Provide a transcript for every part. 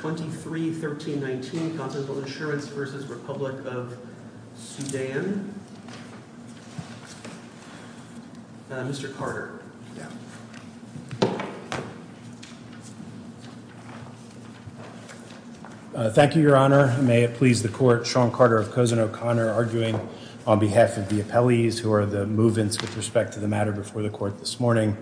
23-13-19 Consensual Insurance v. Republic of Sudan Thank you, Your Honor. May it please the Court, Sean Carter of Cosin O'Connor arguing on behalf of the appellees who are the move-ins with respect to the matter before the Court this morning.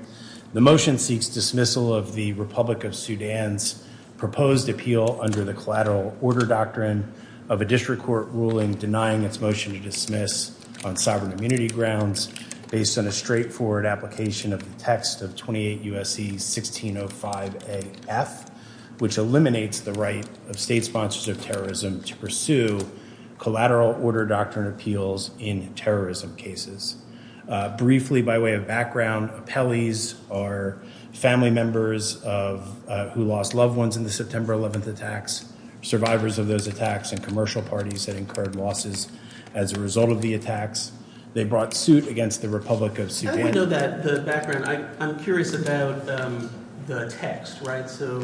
The motion seeks dismissal of the Republic of Sudan's proposed appeal under the Collateral Order Doctrine of a District Court ruling denying its motion to dismiss on sovereign immunity grounds based on a straightforward application of the text of 28 U.S.C. 1605 A.F., which eliminates the right of state sponsors of terrorism to pursue collateral order doctrine appeals in terrorism cases. Briefly, by way of background, appellees are family members who lost loved ones in the September 11th attacks, survivors of those attacks, and commercial parties that incurred losses as a result of the attacks. They brought suit against the Republic of Sudan. I want to know the background. I'm curious about the text, right? So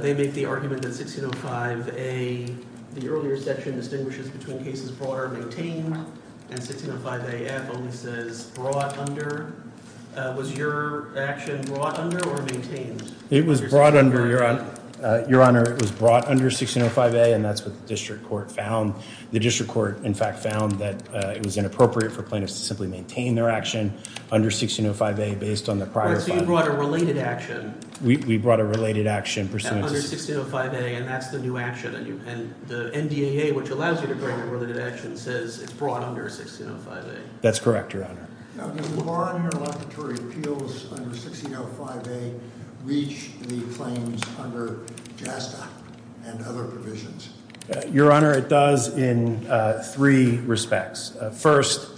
they make the argument that 1605 A, the earlier section, distinguishes between cases brought or maintained, and 1605 A.F. only says brought under. Was your action brought under or maintained? It was brought under, Your Honor. Your Honor, it was brought under 1605 A, and that's what the District Court found. The District Court, in fact, found that it was inappropriate for plaintiffs to simply maintain their action under 1605 A based on the prior file. So you brought a related action. We brought a related action pursuant to 1605 A, and that's the new action, and the NDAA, which allows you to bring a related action, says it's brought under 1605 A. That's correct, Your Honor. Now, do bar and interlocutory appeals under 1605 A reach the claims under JASTA and other provisions? Your Honor, it does in three respects. First,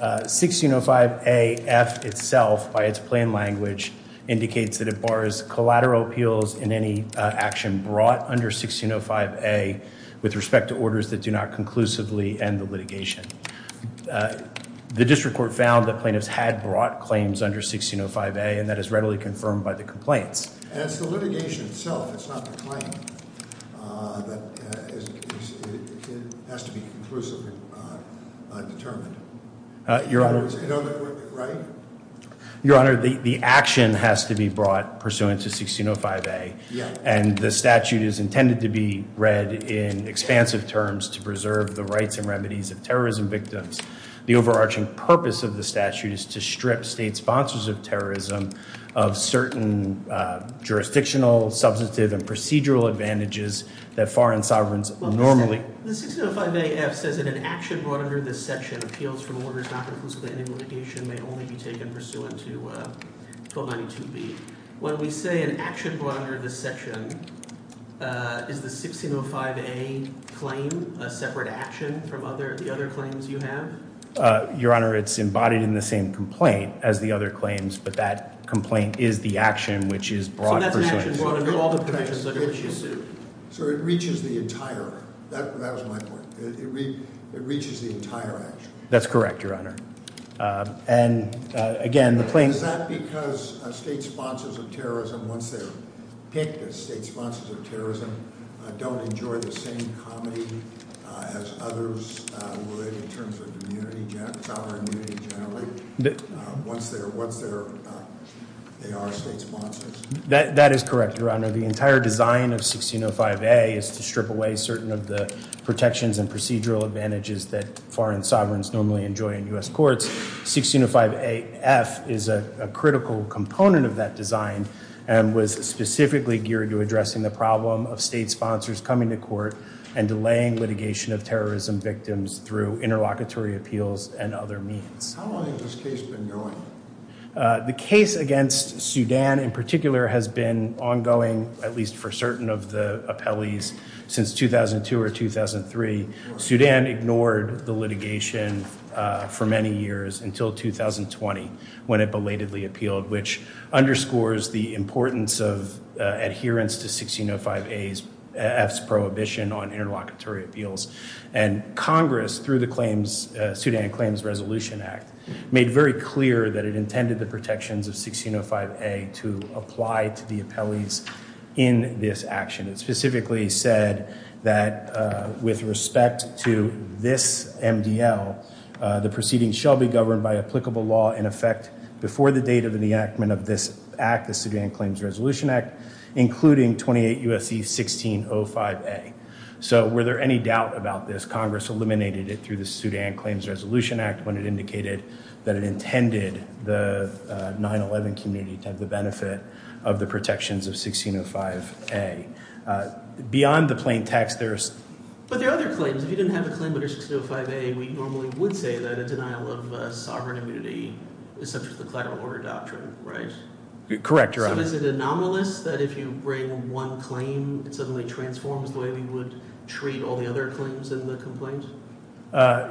1605 A.F. itself, by its plain language, indicates that it bars collateral appeals in any action brought under 1605 A with respect to orders that do not conclusively end the litigation. The District Court found that plaintiffs had brought claims under 1605 A, and that is readily confirmed by the complaints. And it's the litigation itself. It's not the claim. It has to be conclusively determined. In other words, in other words, right? Your Honor, the action has to be brought pursuant to 1605 A, and the statute is intended to be read in expansive terms to preserve the rights and remedies of terrorism victims. The overarching purpose of the statute is to strip state sponsors of terrorism of certain jurisdictional, substantive, and procedural advantages that foreign sovereigns normally The 1605 A.F. says that an action brought under this section, appeals from orders not conclusively ending litigation, may only be taken pursuant to 1292 B. When we say an action brought under this section, is the 1605 A claim a separate action from the other claims you have? Your Honor, it's embodied in the same complaint as the other claims, but that complaint is the action which is brought pursuant. So that's an action brought under all the provisions under which you sue. So it reaches the entire, that was my point, it reaches the entire action. That's correct, Your Honor. And again, the claim... Is that because state sponsors of terrorism, once they're picked as state sponsors of terrorism, don't enjoy the same comedy as others would in terms of community, sovereign community generally, once they are state sponsors? That is correct, Your Honor. The entire design of 1605 A is to strip away certain of the protections and procedural advantages that foreign sovereigns normally enjoy in U.S. courts. 1605 A.F. is a critical component of that design and was specifically geared to addressing the problem of state sponsors coming to court and delaying litigation of terrorism victims through interlocutory appeals and other means. How long has this case been going? The case against Sudan in particular has been ongoing, at least for certain of the appellees, since 2002 or 2003. Sudan ignored the litigation for many years until 2020 when it belatedly appealed, which underscores the importance of adherence to 1605 A.F.'s prohibition on interlocutory appeals. Congress, through the Sudan Claims Resolution Act, made very clear that it intended the protections of 1605 A to apply to the appellees in this action. It specifically said that with respect to this MDL, the proceedings shall be governed by applicable law in effect before the date of the enactment of this act, the Sudan Claims Resolution Act, including 28 U.S.C. 1605 A. So were there any doubt about this? Congress eliminated it through the Sudan Claims Resolution Act when it indicated that it intended the 9-11 community to have the benefit of the protections of 1605 A. Beyond the plain text, there's... But there are other claims. If you didn't have a claim under 1605 A, we normally would say that a denial of sovereign immunity is subject to the collateral order doctrine, right? Correct, Your Honor. So is it anomalous that if you bring one claim, it suddenly transforms the way we would treat all the other claims in the complaint?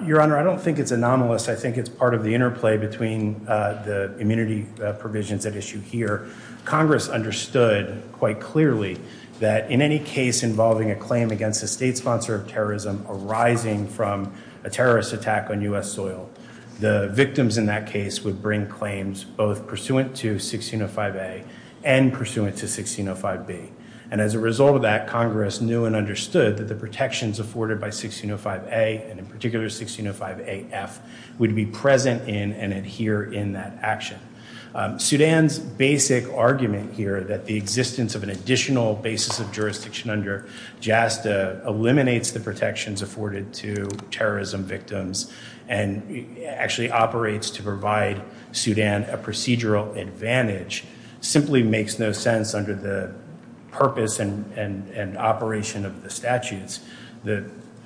Your Honor, I don't think it's anomalous. I think it's part of the interplay between the immunity provisions at issue here. Congress understood quite clearly that in any case involving a claim against a state sponsor of terrorism arising from a terrorist attack on U.S. soil, the victims in that case would bring claims both pursuant to 1605 A and pursuant to 1605 B. And as a result of that, Congress knew and understood that the protections afforded by 1605 A, and in particular, 1605 A.F., would be present in and adhere in that action. Sudan's basic argument here that the existence of an additional basis of jurisdiction under JASTA eliminates the protections afforded to terrorism victims and actually operates to provide Sudan a procedural advantage simply makes no sense under the purpose and operation of the statutes.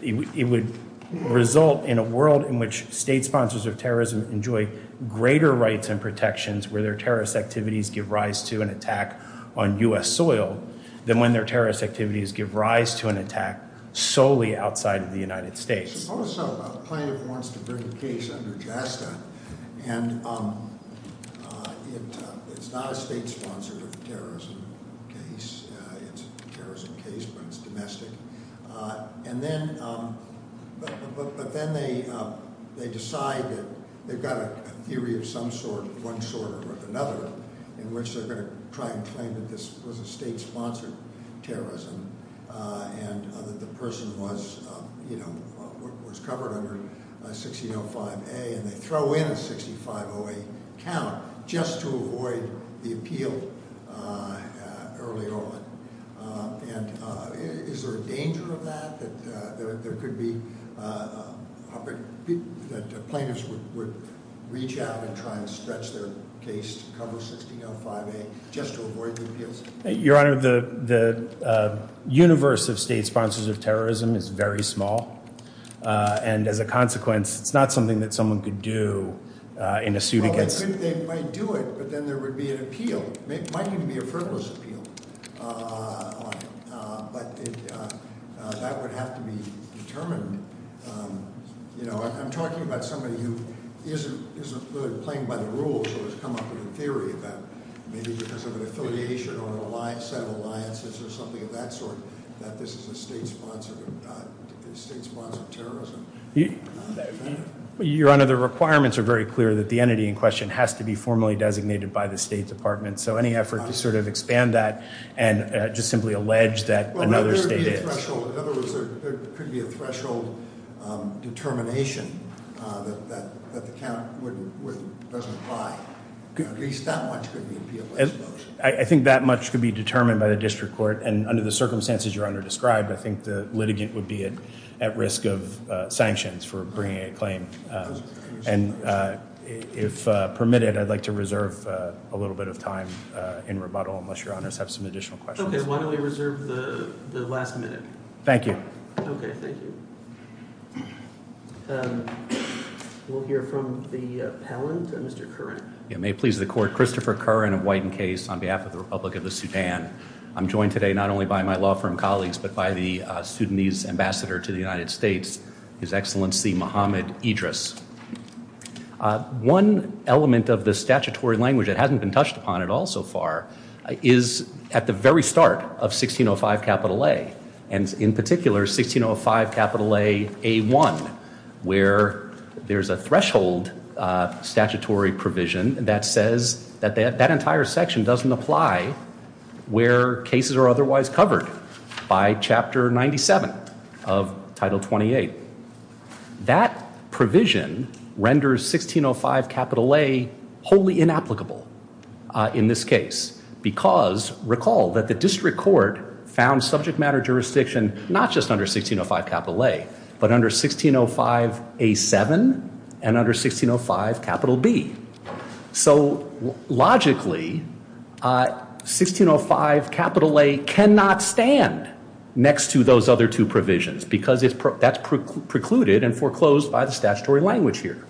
It would result in a world in which state sponsors of terrorism enjoy greater rights and protections where their terrorist activities give rise to an attack on U.S. soil than when their terrorist activities give rise to an attack solely outside of the United States. Suppose a plaintiff wants to bring a case under JASTA, and it's not a state-sponsored terrorism case. It's a terrorism case, but it's domestic. But then they decide that they've got a theory of some sort, one sort or another, in which they're going to try and claim that this was a state-sponsored terrorism and that the person was, you know, was covered under 1605 A, and they throw in a 650 A count just to avoid the appeal early on. And is there a danger of that, that there could be, that plaintiffs would reach out and try and stretch their case to cover 1605 A just to avoid the appeals? Your Honor, the universe of state sponsors of terrorism is very small. And as a consequence, it's not something that someone could do in a suit against... Well, they might do it, but then there would be an appeal. It might even be a frivolous appeal. But that would have to be determined. You know, I'm talking about somebody who isn't really playing by the rules or has come up with a theory that maybe because of an affiliation or a set of alliances or something of that sort, that this is a state-sponsored terrorism. Your Honor, the requirements are very clear that the entity in question has to be formally designated by the State Department. So any effort to sort of expand that and just simply allege that another state is... Well, there would be a threshold. In other words, there could be a threshold determination that the count doesn't apply. At least that much could be a... I think that much could be determined by the district court. And under the circumstances Your Honor described, I think the litigant would be at risk of sanctions for bringing a claim. And if permitted, I'd like to reserve a little bit of time in rebuttal unless Your Honor has some additional questions. Okay, why don't we reserve the last minute? Thank you. Okay, thank you. We'll hear from the appellant, Mr. Curran. May it please the Court. Christopher Curran of Whiten Case on behalf of the Republic of the Sudan. I'm joined today not only by my law firm colleagues but by the Sudanese ambassador to the United States, His Excellency Mohamed Idris. One element of the statutory language that hasn't been touched upon at all so far is at the very start of 1605 capital A. And in particular, 1605 capital A A1 where there's a threshold statutory provision that says that that entire section doesn't apply where cases are otherwise covered by Chapter 97 of Title 28. That provision renders 1605 capital A wholly inapplicable in this case because, recall, that the district court found subject matter jurisdiction not just under 1605 capital A but under 1605 A7 and under 1605 capital B. So logically, 1605 capital A cannot stand next to those other two provisions because that's precluded and foreclosed by the statutory language here.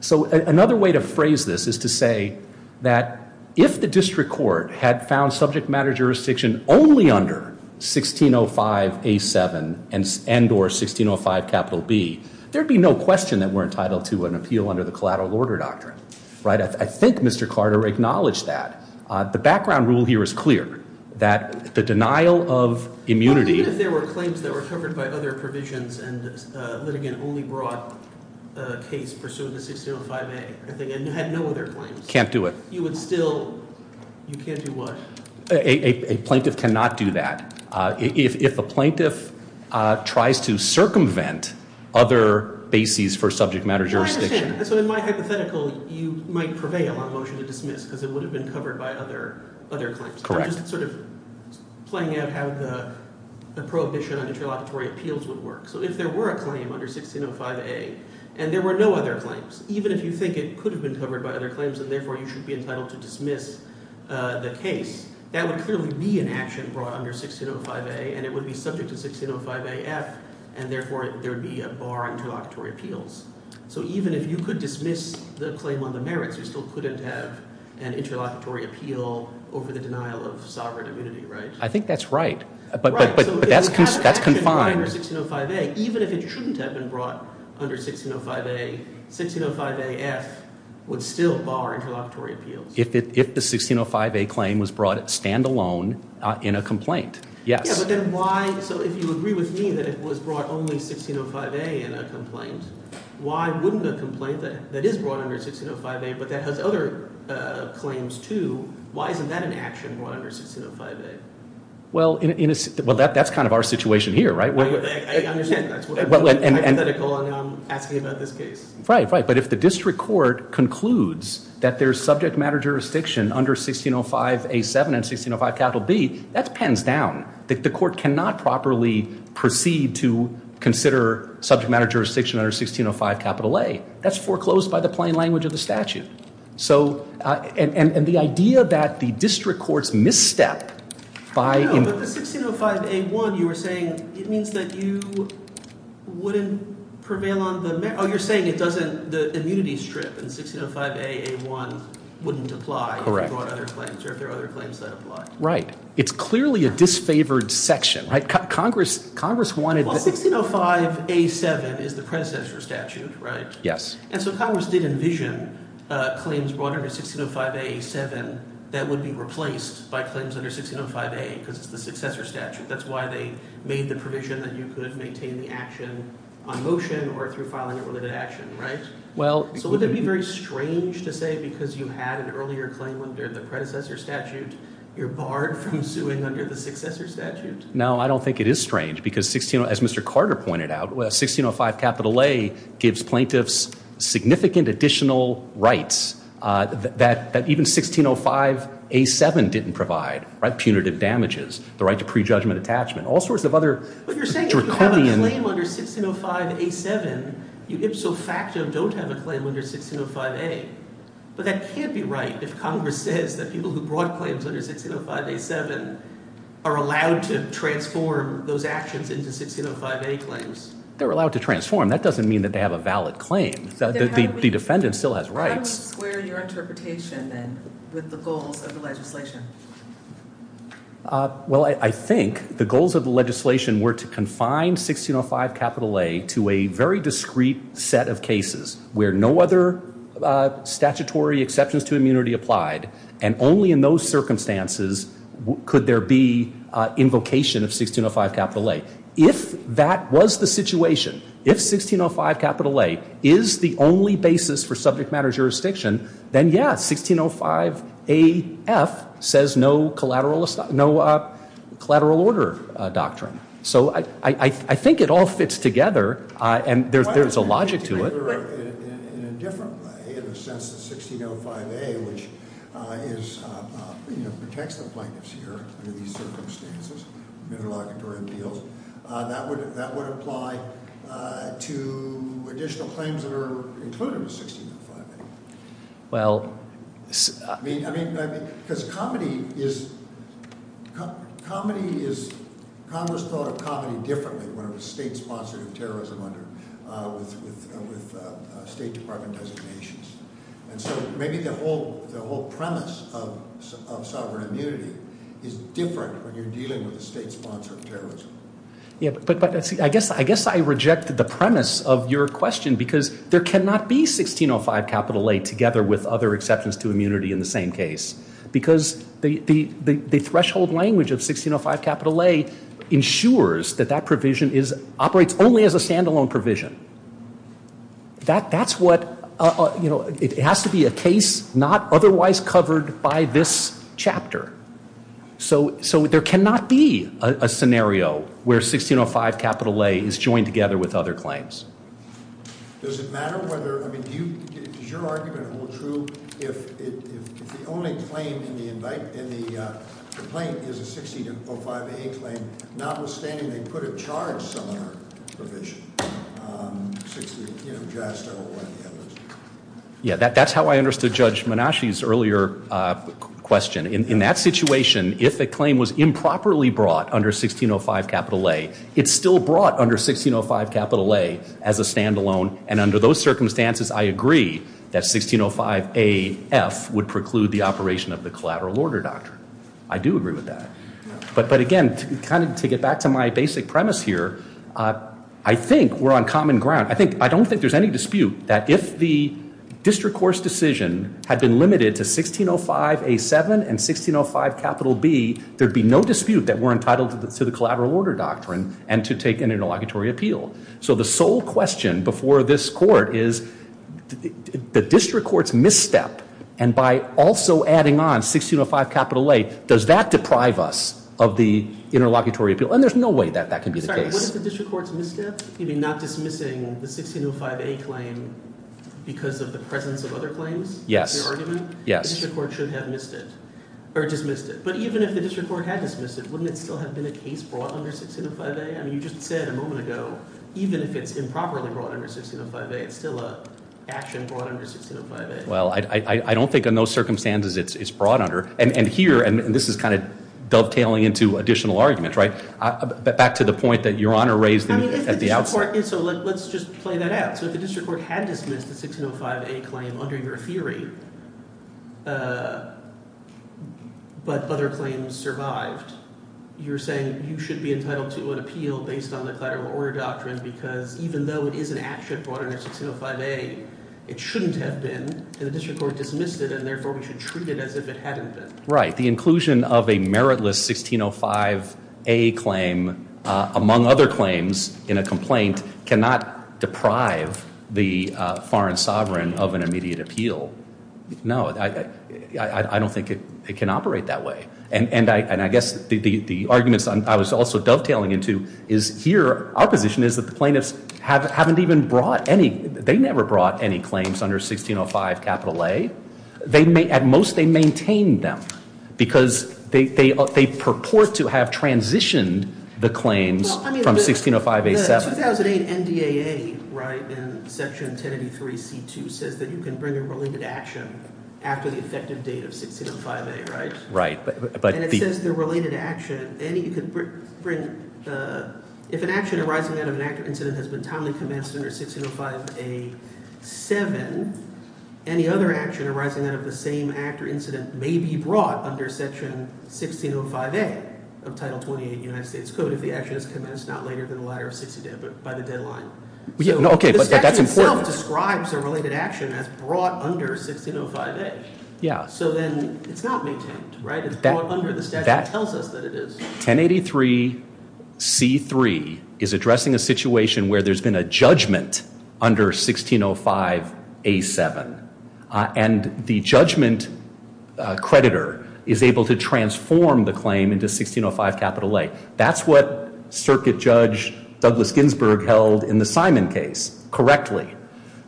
So another way to phrase this is to say that if the district court had found subject matter jurisdiction only under 1605 A7 and or 1605 capital B, there'd be no question that we're entitled to an appeal under the collateral order doctrine. Right? I think Mr. Carter acknowledged that. The background rule here is clear that the denial of immunity- Can't do it. You would still, you can't do what? A plaintiff cannot do that. If a plaintiff tries to circumvent other bases for subject matter jurisdiction- I understand. So in my hypothetical, you might prevail on motion to dismiss because it would have been covered by other claims. Correct. I'm just sort of playing out how the prohibition on interlocutory appeals would work. So if there were a claim under 1605 A and there were no other claims, even if you think it could have been covered by other claims and therefore you should be entitled to dismiss the case, that would clearly be an action brought under 1605 A and it would be subject to 1605 AF and therefore there would be a bar on interlocutory appeals. So even if you could dismiss the claim on the merits, you still couldn't have an interlocutory appeal over the denial of sovereign immunity, right? I think that's right. But that's confined. Under 1605 A, even if it shouldn't have been brought under 1605 A, 1605 AF would still bar interlocutory appeals. If the 1605 A claim was brought standalone in a complaint, yes. Yeah, but then why, so if you agree with me that it was brought only 1605 A in a complaint, why wouldn't a complaint that is brought under 1605 A but that has other claims too, why isn't that an action brought under 1605 A? Well, that's kind of our situation here, right? I understand that's hypothetical and I'm asking about this case. Right, right. But if the district court concludes that there's subject matter jurisdiction under 1605 A7 and 1605 capital B, that's pens down. The court cannot properly proceed to consider subject matter jurisdiction under 1605 capital A. That's foreclosed by the plain language of the statute. So, and the idea that the district court's misstep by No, but the 1605 A1, you were saying, it means that you wouldn't prevail on the, oh, you're saying it doesn't, the immunity strip in 1605 A, A1 wouldn't apply if you brought other claims or if there are other claims that apply. Right, it's clearly a disfavored section, right? Congress wanted Well, 1605 A7 is the predecessor statute, right? Yes. And so Congress did envision claims brought under 1605 A7 that would be replaced by claims under 1605 A because it's the successor statute. That's why they made the provision that you could maintain the action on motion or through filing a related action, right? Well, So would it be very strange to say because you had an earlier claim under the predecessor statute, you're barred from suing under the successor statute? No, I don't think it is strange because, as Mr. Carter pointed out, 1605 A gives plaintiffs significant additional rights that even 1605 A7 didn't provide, right? Punitive damages, the right to prejudgment attachment, all sorts of other But you're saying if you have a claim under 1605 A7, you ipso facto don't have a claim under 1605 A. But that can't be right if Congress says that people who brought claims under 1605 A7 are allowed to transform those actions into 1605 A claims. They're allowed to transform. That doesn't mean that they have a valid claim. The defendant still has rights. How would you square your interpretation then with the goals of the legislation? Well, I think the goals of the legislation were to confine 1605 A to a very discreet set of cases where no other statutory exceptions to immunity applied. And only in those circumstances could there be invocation of 1605 A. If that was the situation, if 1605 A is the only basis for subject matter jurisdiction, then yeah, 1605 A says no collateral order doctrine. So I think it all fits together and there's a logic to it. But in a different way, in the sense that 1605 A, which protects the plaintiffs here under these circumstances, interlocutory appeals, that would apply to additional claims that are included with 1605 A. Because comedy is – Congress thought of comedy differently when it was state-sponsored terrorism under – with State Department designations. And so maybe the whole premise of sovereign immunity is different when you're dealing with a state-sponsored terrorism. Yeah, but I guess I reject the premise of your question because there cannot be 1605 A together with other exceptions to immunity in the same case. Because the threshold language of 1605 A ensures that that provision operates only as a standalone provision. That's what – it has to be a case not otherwise covered by this chapter. So there cannot be a scenario where 1605 A is joined together with other claims. Does it matter whether – I mean, do you – does your argument hold true if the only claim in the – in the complaint is a 1605 A claim, notwithstanding they could have charged someone a provision? 16 – you know, JASTA or one of the others. Yeah, that's how I understood Judge Menasche's earlier question. In that situation, if a claim was improperly brought under 1605 A, it's still brought under 1605 A as a standalone. And under those circumstances, I agree that 1605 A-F would preclude the operation of the collateral order doctrine. I do agree with that. But again, kind of to get back to my basic premise here, I think we're on common ground. I think – I don't think there's any dispute that if the district court's decision had been limited to 1605 A-7 and 1605 B, there'd be no dispute that we're entitled to the collateral order doctrine and to take an interlocutory appeal. So the sole question before this court is the district court's misstep. And by also adding on 1605 A, does that deprive us of the interlocutory appeal? And there's no way that that can be the case. What if the district court's misstep? You mean not dismissing the 1605 A claim because of the presence of other claims? Yes. Your argument? Yes. The district court should have missed it or dismissed it. But even if the district court had dismissed it, wouldn't it still have been a case brought under 1605 A? I mean, you just said a moment ago, even if it's improperly brought under 1605 A, it's still an action brought under 1605 A. Well, I don't think in those circumstances it's brought under. And here – and this is kind of dovetailing into additional argument, right? Back to the point that Your Honor raised at the outset. So let's just play that out. So if the district court had dismissed the 1605 A claim under your theory, but other claims survived, you're saying you should be entitled to an appeal based on the collateral order doctrine because even though it is an action brought under 1605 A, it shouldn't have been, and the district court dismissed it, and therefore we should treat it as if it hadn't been. Right. The inclusion of a meritless 1605 A claim, among other claims in a complaint, cannot deprive the foreign sovereign of an immediate appeal. No. I don't think it can operate that way. And I guess the arguments I was also dovetailing into is here our position is that the plaintiffs haven't even brought any – they never brought any claims under 1605 A. At most they maintained them because they purport to have transitioned the claims from 1605 A. The 2008 NDAA in Section 1083 C.2 says that you can bring a related action after the effective date of 1605 A, right? Right. And it says the related action. If an action arising out of an active incident has been timely commenced under 1605 A.7, any other action arising out of the same act or incident may be brought under Section 1605 A of Title 28 of the United States Code if the action is commenced not later than the latter of 1605 A by the deadline. Okay, but that's important. The statute itself describes a related action as brought under 1605 A. Yeah. So then it's not maintained, right? It's brought under the statute. It tells us that it is. 1083 C.3 is addressing a situation where there's been a judgment under 1605 A.7. And the judgment creditor is able to transform the claim into 1605 A. That's what Circuit Judge Douglas Ginsburg held in the Simon case correctly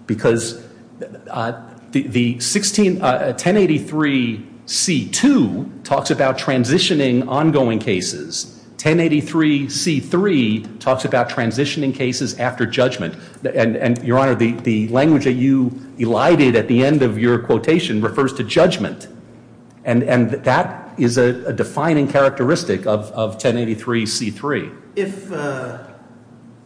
because the 1083 C.2 talks about transitioning ongoing cases. 1083 C.3 talks about transitioning cases after judgment. And, Your Honor, the language that you elided at the end of your quotation refers to judgment. And that is a defining characteristic of 1083 C.3.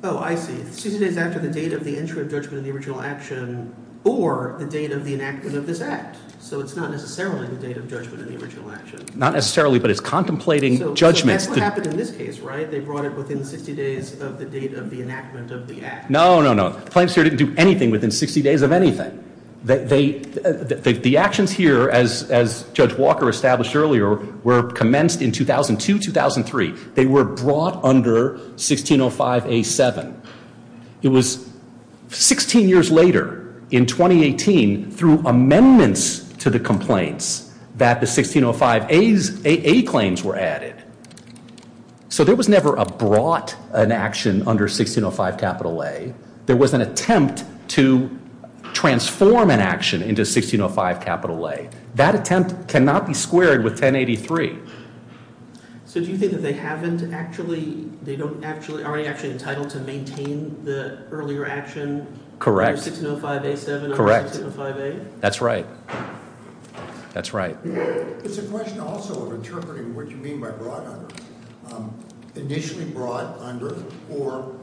Oh, I see. 60 days after the date of the entry of judgment in the original action or the date of the enactment of this act. So it's not necessarily the date of judgment in the original action. Not necessarily, but it's contemplating judgment. So that's what happened in this case, right? They brought it within 60 days of the date of the enactment of the act. No, no, no. Claims here didn't do anything within 60 days of anything. The actions here, as Judge Walker established earlier, were commenced in 2002-2003. They were brought under 1605 A.7. It was 16 years later in 2018 through amendments to the complaints that the 1605 A claims were added. So there was never a brought an action under 1605 A. There was an attempt to transform an action into 1605 A. That attempt cannot be squared with 1083. So do you think that they haven't actually, they don't actually, aren't actually entitled to maintain the earlier action? Correct. Under 1605 A.7? Correct. Under 1605 A? That's right. That's right. It's a question also of interpreting what you mean by brought under. Initially brought under, or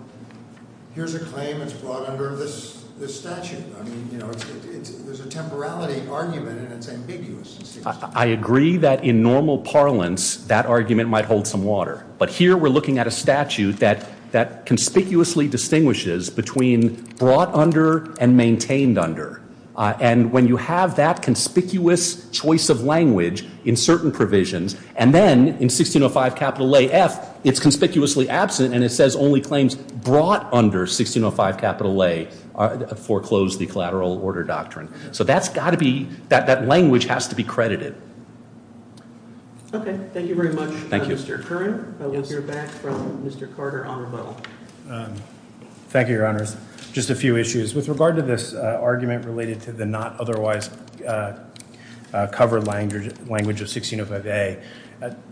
here's a claim that's brought under this statute. I mean, you know, there's a temporality argument and it's ambiguous. I agree that in normal parlance that argument might hold some water. But here we're looking at a statute that conspicuously distinguishes between brought under and maintained under. And when you have that conspicuous choice of language in certain provisions, and then in 1605 A.F. it's conspicuously absent and it says only claims brought under 1605 A foreclose the collateral order doctrine. So that's got to be, that language has to be credited. Okay. Thank you very much, Mr. Curran. We'll hear back from Mr. Carter on rebuttal. Thank you, Your Honors. Just a few issues. With regard to this argument related to the not otherwise covered language of 1605 A,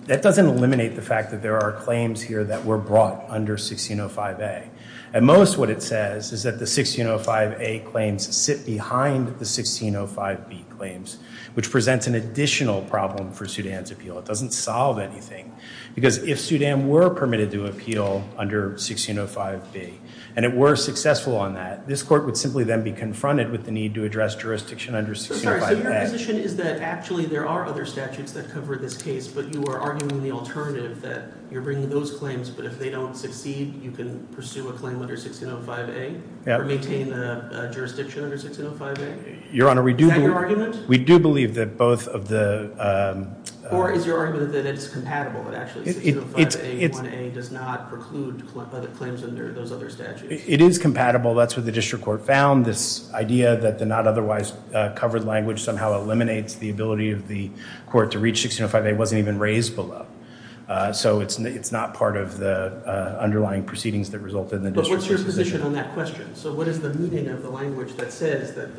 that doesn't eliminate the fact that there are claims here that were brought under 1605 A. At most what it says is that the 1605 A claims sit behind the 1605 B claims, which presents an additional problem for Sudan's appeal. It doesn't solve anything. Because if Sudan were permitted to appeal under 1605 B and it were successful on that, this court would simply then be confronted with the need to address jurisdiction under 1605 A. So your position is that actually there are other statutes that cover this case, but you are arguing the alternative that you're bringing those claims, but if they don't succeed, you can pursue a claim under 1605 A? Or maintain a jurisdiction under 1605 A? Your Honor, we do believe that both of the- Or is your argument that it's compatible, that actually 1605 A 1A does not preclude claims under those other statutes? It is compatible. That's what the district court found, this idea that the not otherwise covered language somehow eliminates the ability of the court to reach 1605 A wasn't even raised below. So it's not part of the underlying proceedings that resulted in the district court's decision. But what's your position on that question? So what is the meaning of the language that says that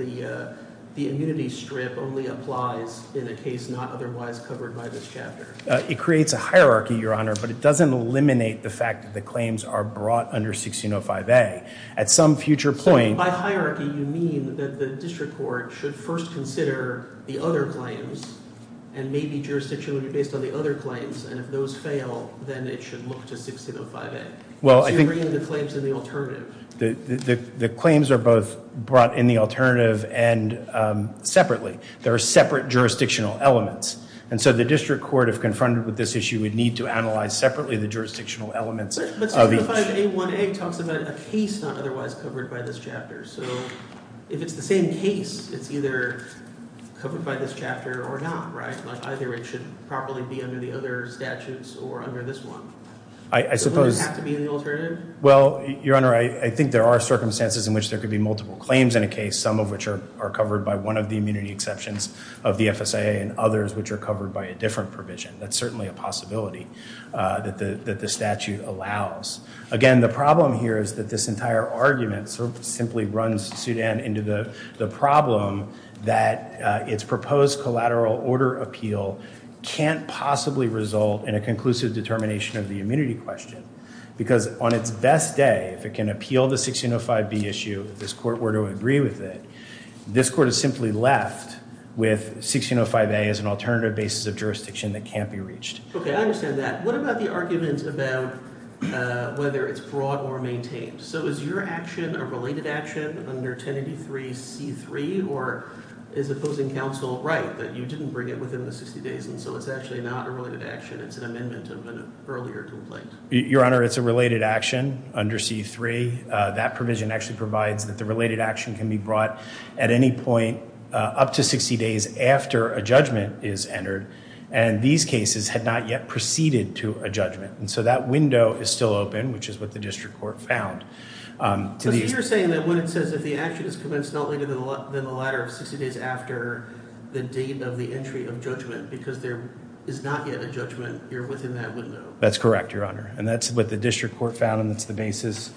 the immunity strip only applies in a case not otherwise covered by this chapter? It creates a hierarchy, Your Honor, but it doesn't eliminate the fact that the claims are brought under 1605 A. At some future point- So by hierarchy, you mean that the district court should first consider the other claims and maybe jurisdictionally based on the other claims. And if those fail, then it should look to 1605 A. So you're bringing the claims in the alternative. The claims are both brought in the alternative and separately. There are separate jurisdictional elements. And so the district court, if confronted with this issue, would need to analyze separately the jurisdictional elements of each. But 1605 A 1A talks about a case not otherwise covered by this chapter. So if it's the same case, it's either covered by this chapter or not, right? Either it should properly be under the other statutes or under this one. I suppose- Does it have to be the alternative? Well, Your Honor, I think there are circumstances in which there could be multiple claims in a case, some of which are covered by one of the immunity exceptions of the FSAA and others which are covered by a different provision. That's certainly a possibility that the statute allows. Again, the problem here is that this entire argument simply runs Sudan into the problem that its proposed collateral order appeal can't possibly result in a conclusive determination of the immunity question because on its best day, if it can appeal the 1605 B issue, if this court were to agree with it, this court is simply left with 1605 A as an alternative basis of jurisdiction that can't be reached. Okay, I understand that. What about the argument about whether it's broad or maintained? So is your action a related action under 1083 C3 or is opposing counsel right that you didn't bring it within the 60 days and so it's actually not a related action, it's an amendment of an earlier complaint? Your Honor, it's a related action under C3. That provision actually provides that the related action can be brought at any point up to 60 days after a judgment is entered and these cases had not yet proceeded to a judgment. And so that window is still open, which is what the district court found. So you're saying that when it says that the action is commenced not later than the latter of 60 days after the date of the entry of judgment because there is not yet a judgment, you're within that window. That's correct, Your Honor, and that's what the district court found and that's the basis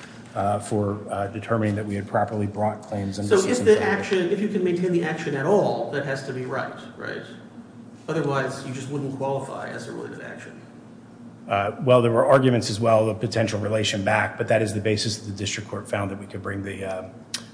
for determining that we had properly brought claims under C3. If you can maintain the action at all, that has to be right, right? Otherwise, you just wouldn't qualify as a related action. Well, there were arguments as well of potential relation back, but that is the basis the district court found that we could bring the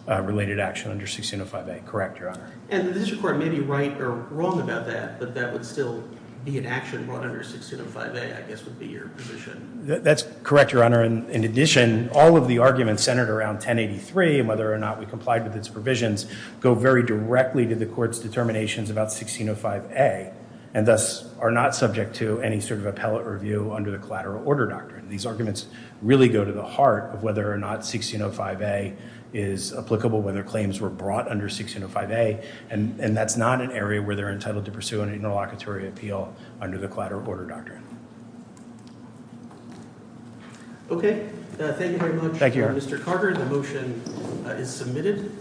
related action under 1605A. Correct, Your Honor. And the district court may be right or wrong about that, but that would still be an action brought under 1605A I guess would be your position. That's correct, Your Honor. In addition, all of the arguments centered around 1083 and whether or not we complied with its provisions go very directly to the court's determinations about 1605A and thus are not subject to any sort of appellate review under the collateral order doctrine. These arguments really go to the heart of whether or not 1605A is applicable, whether claims were brought under 1605A, and that's not an area where they're entitled to pursue an interlocutory appeal under the collateral order doctrine. Okay. Thank you very much. Thank you, Your Honor. Mr. Carter, the motion is submitted.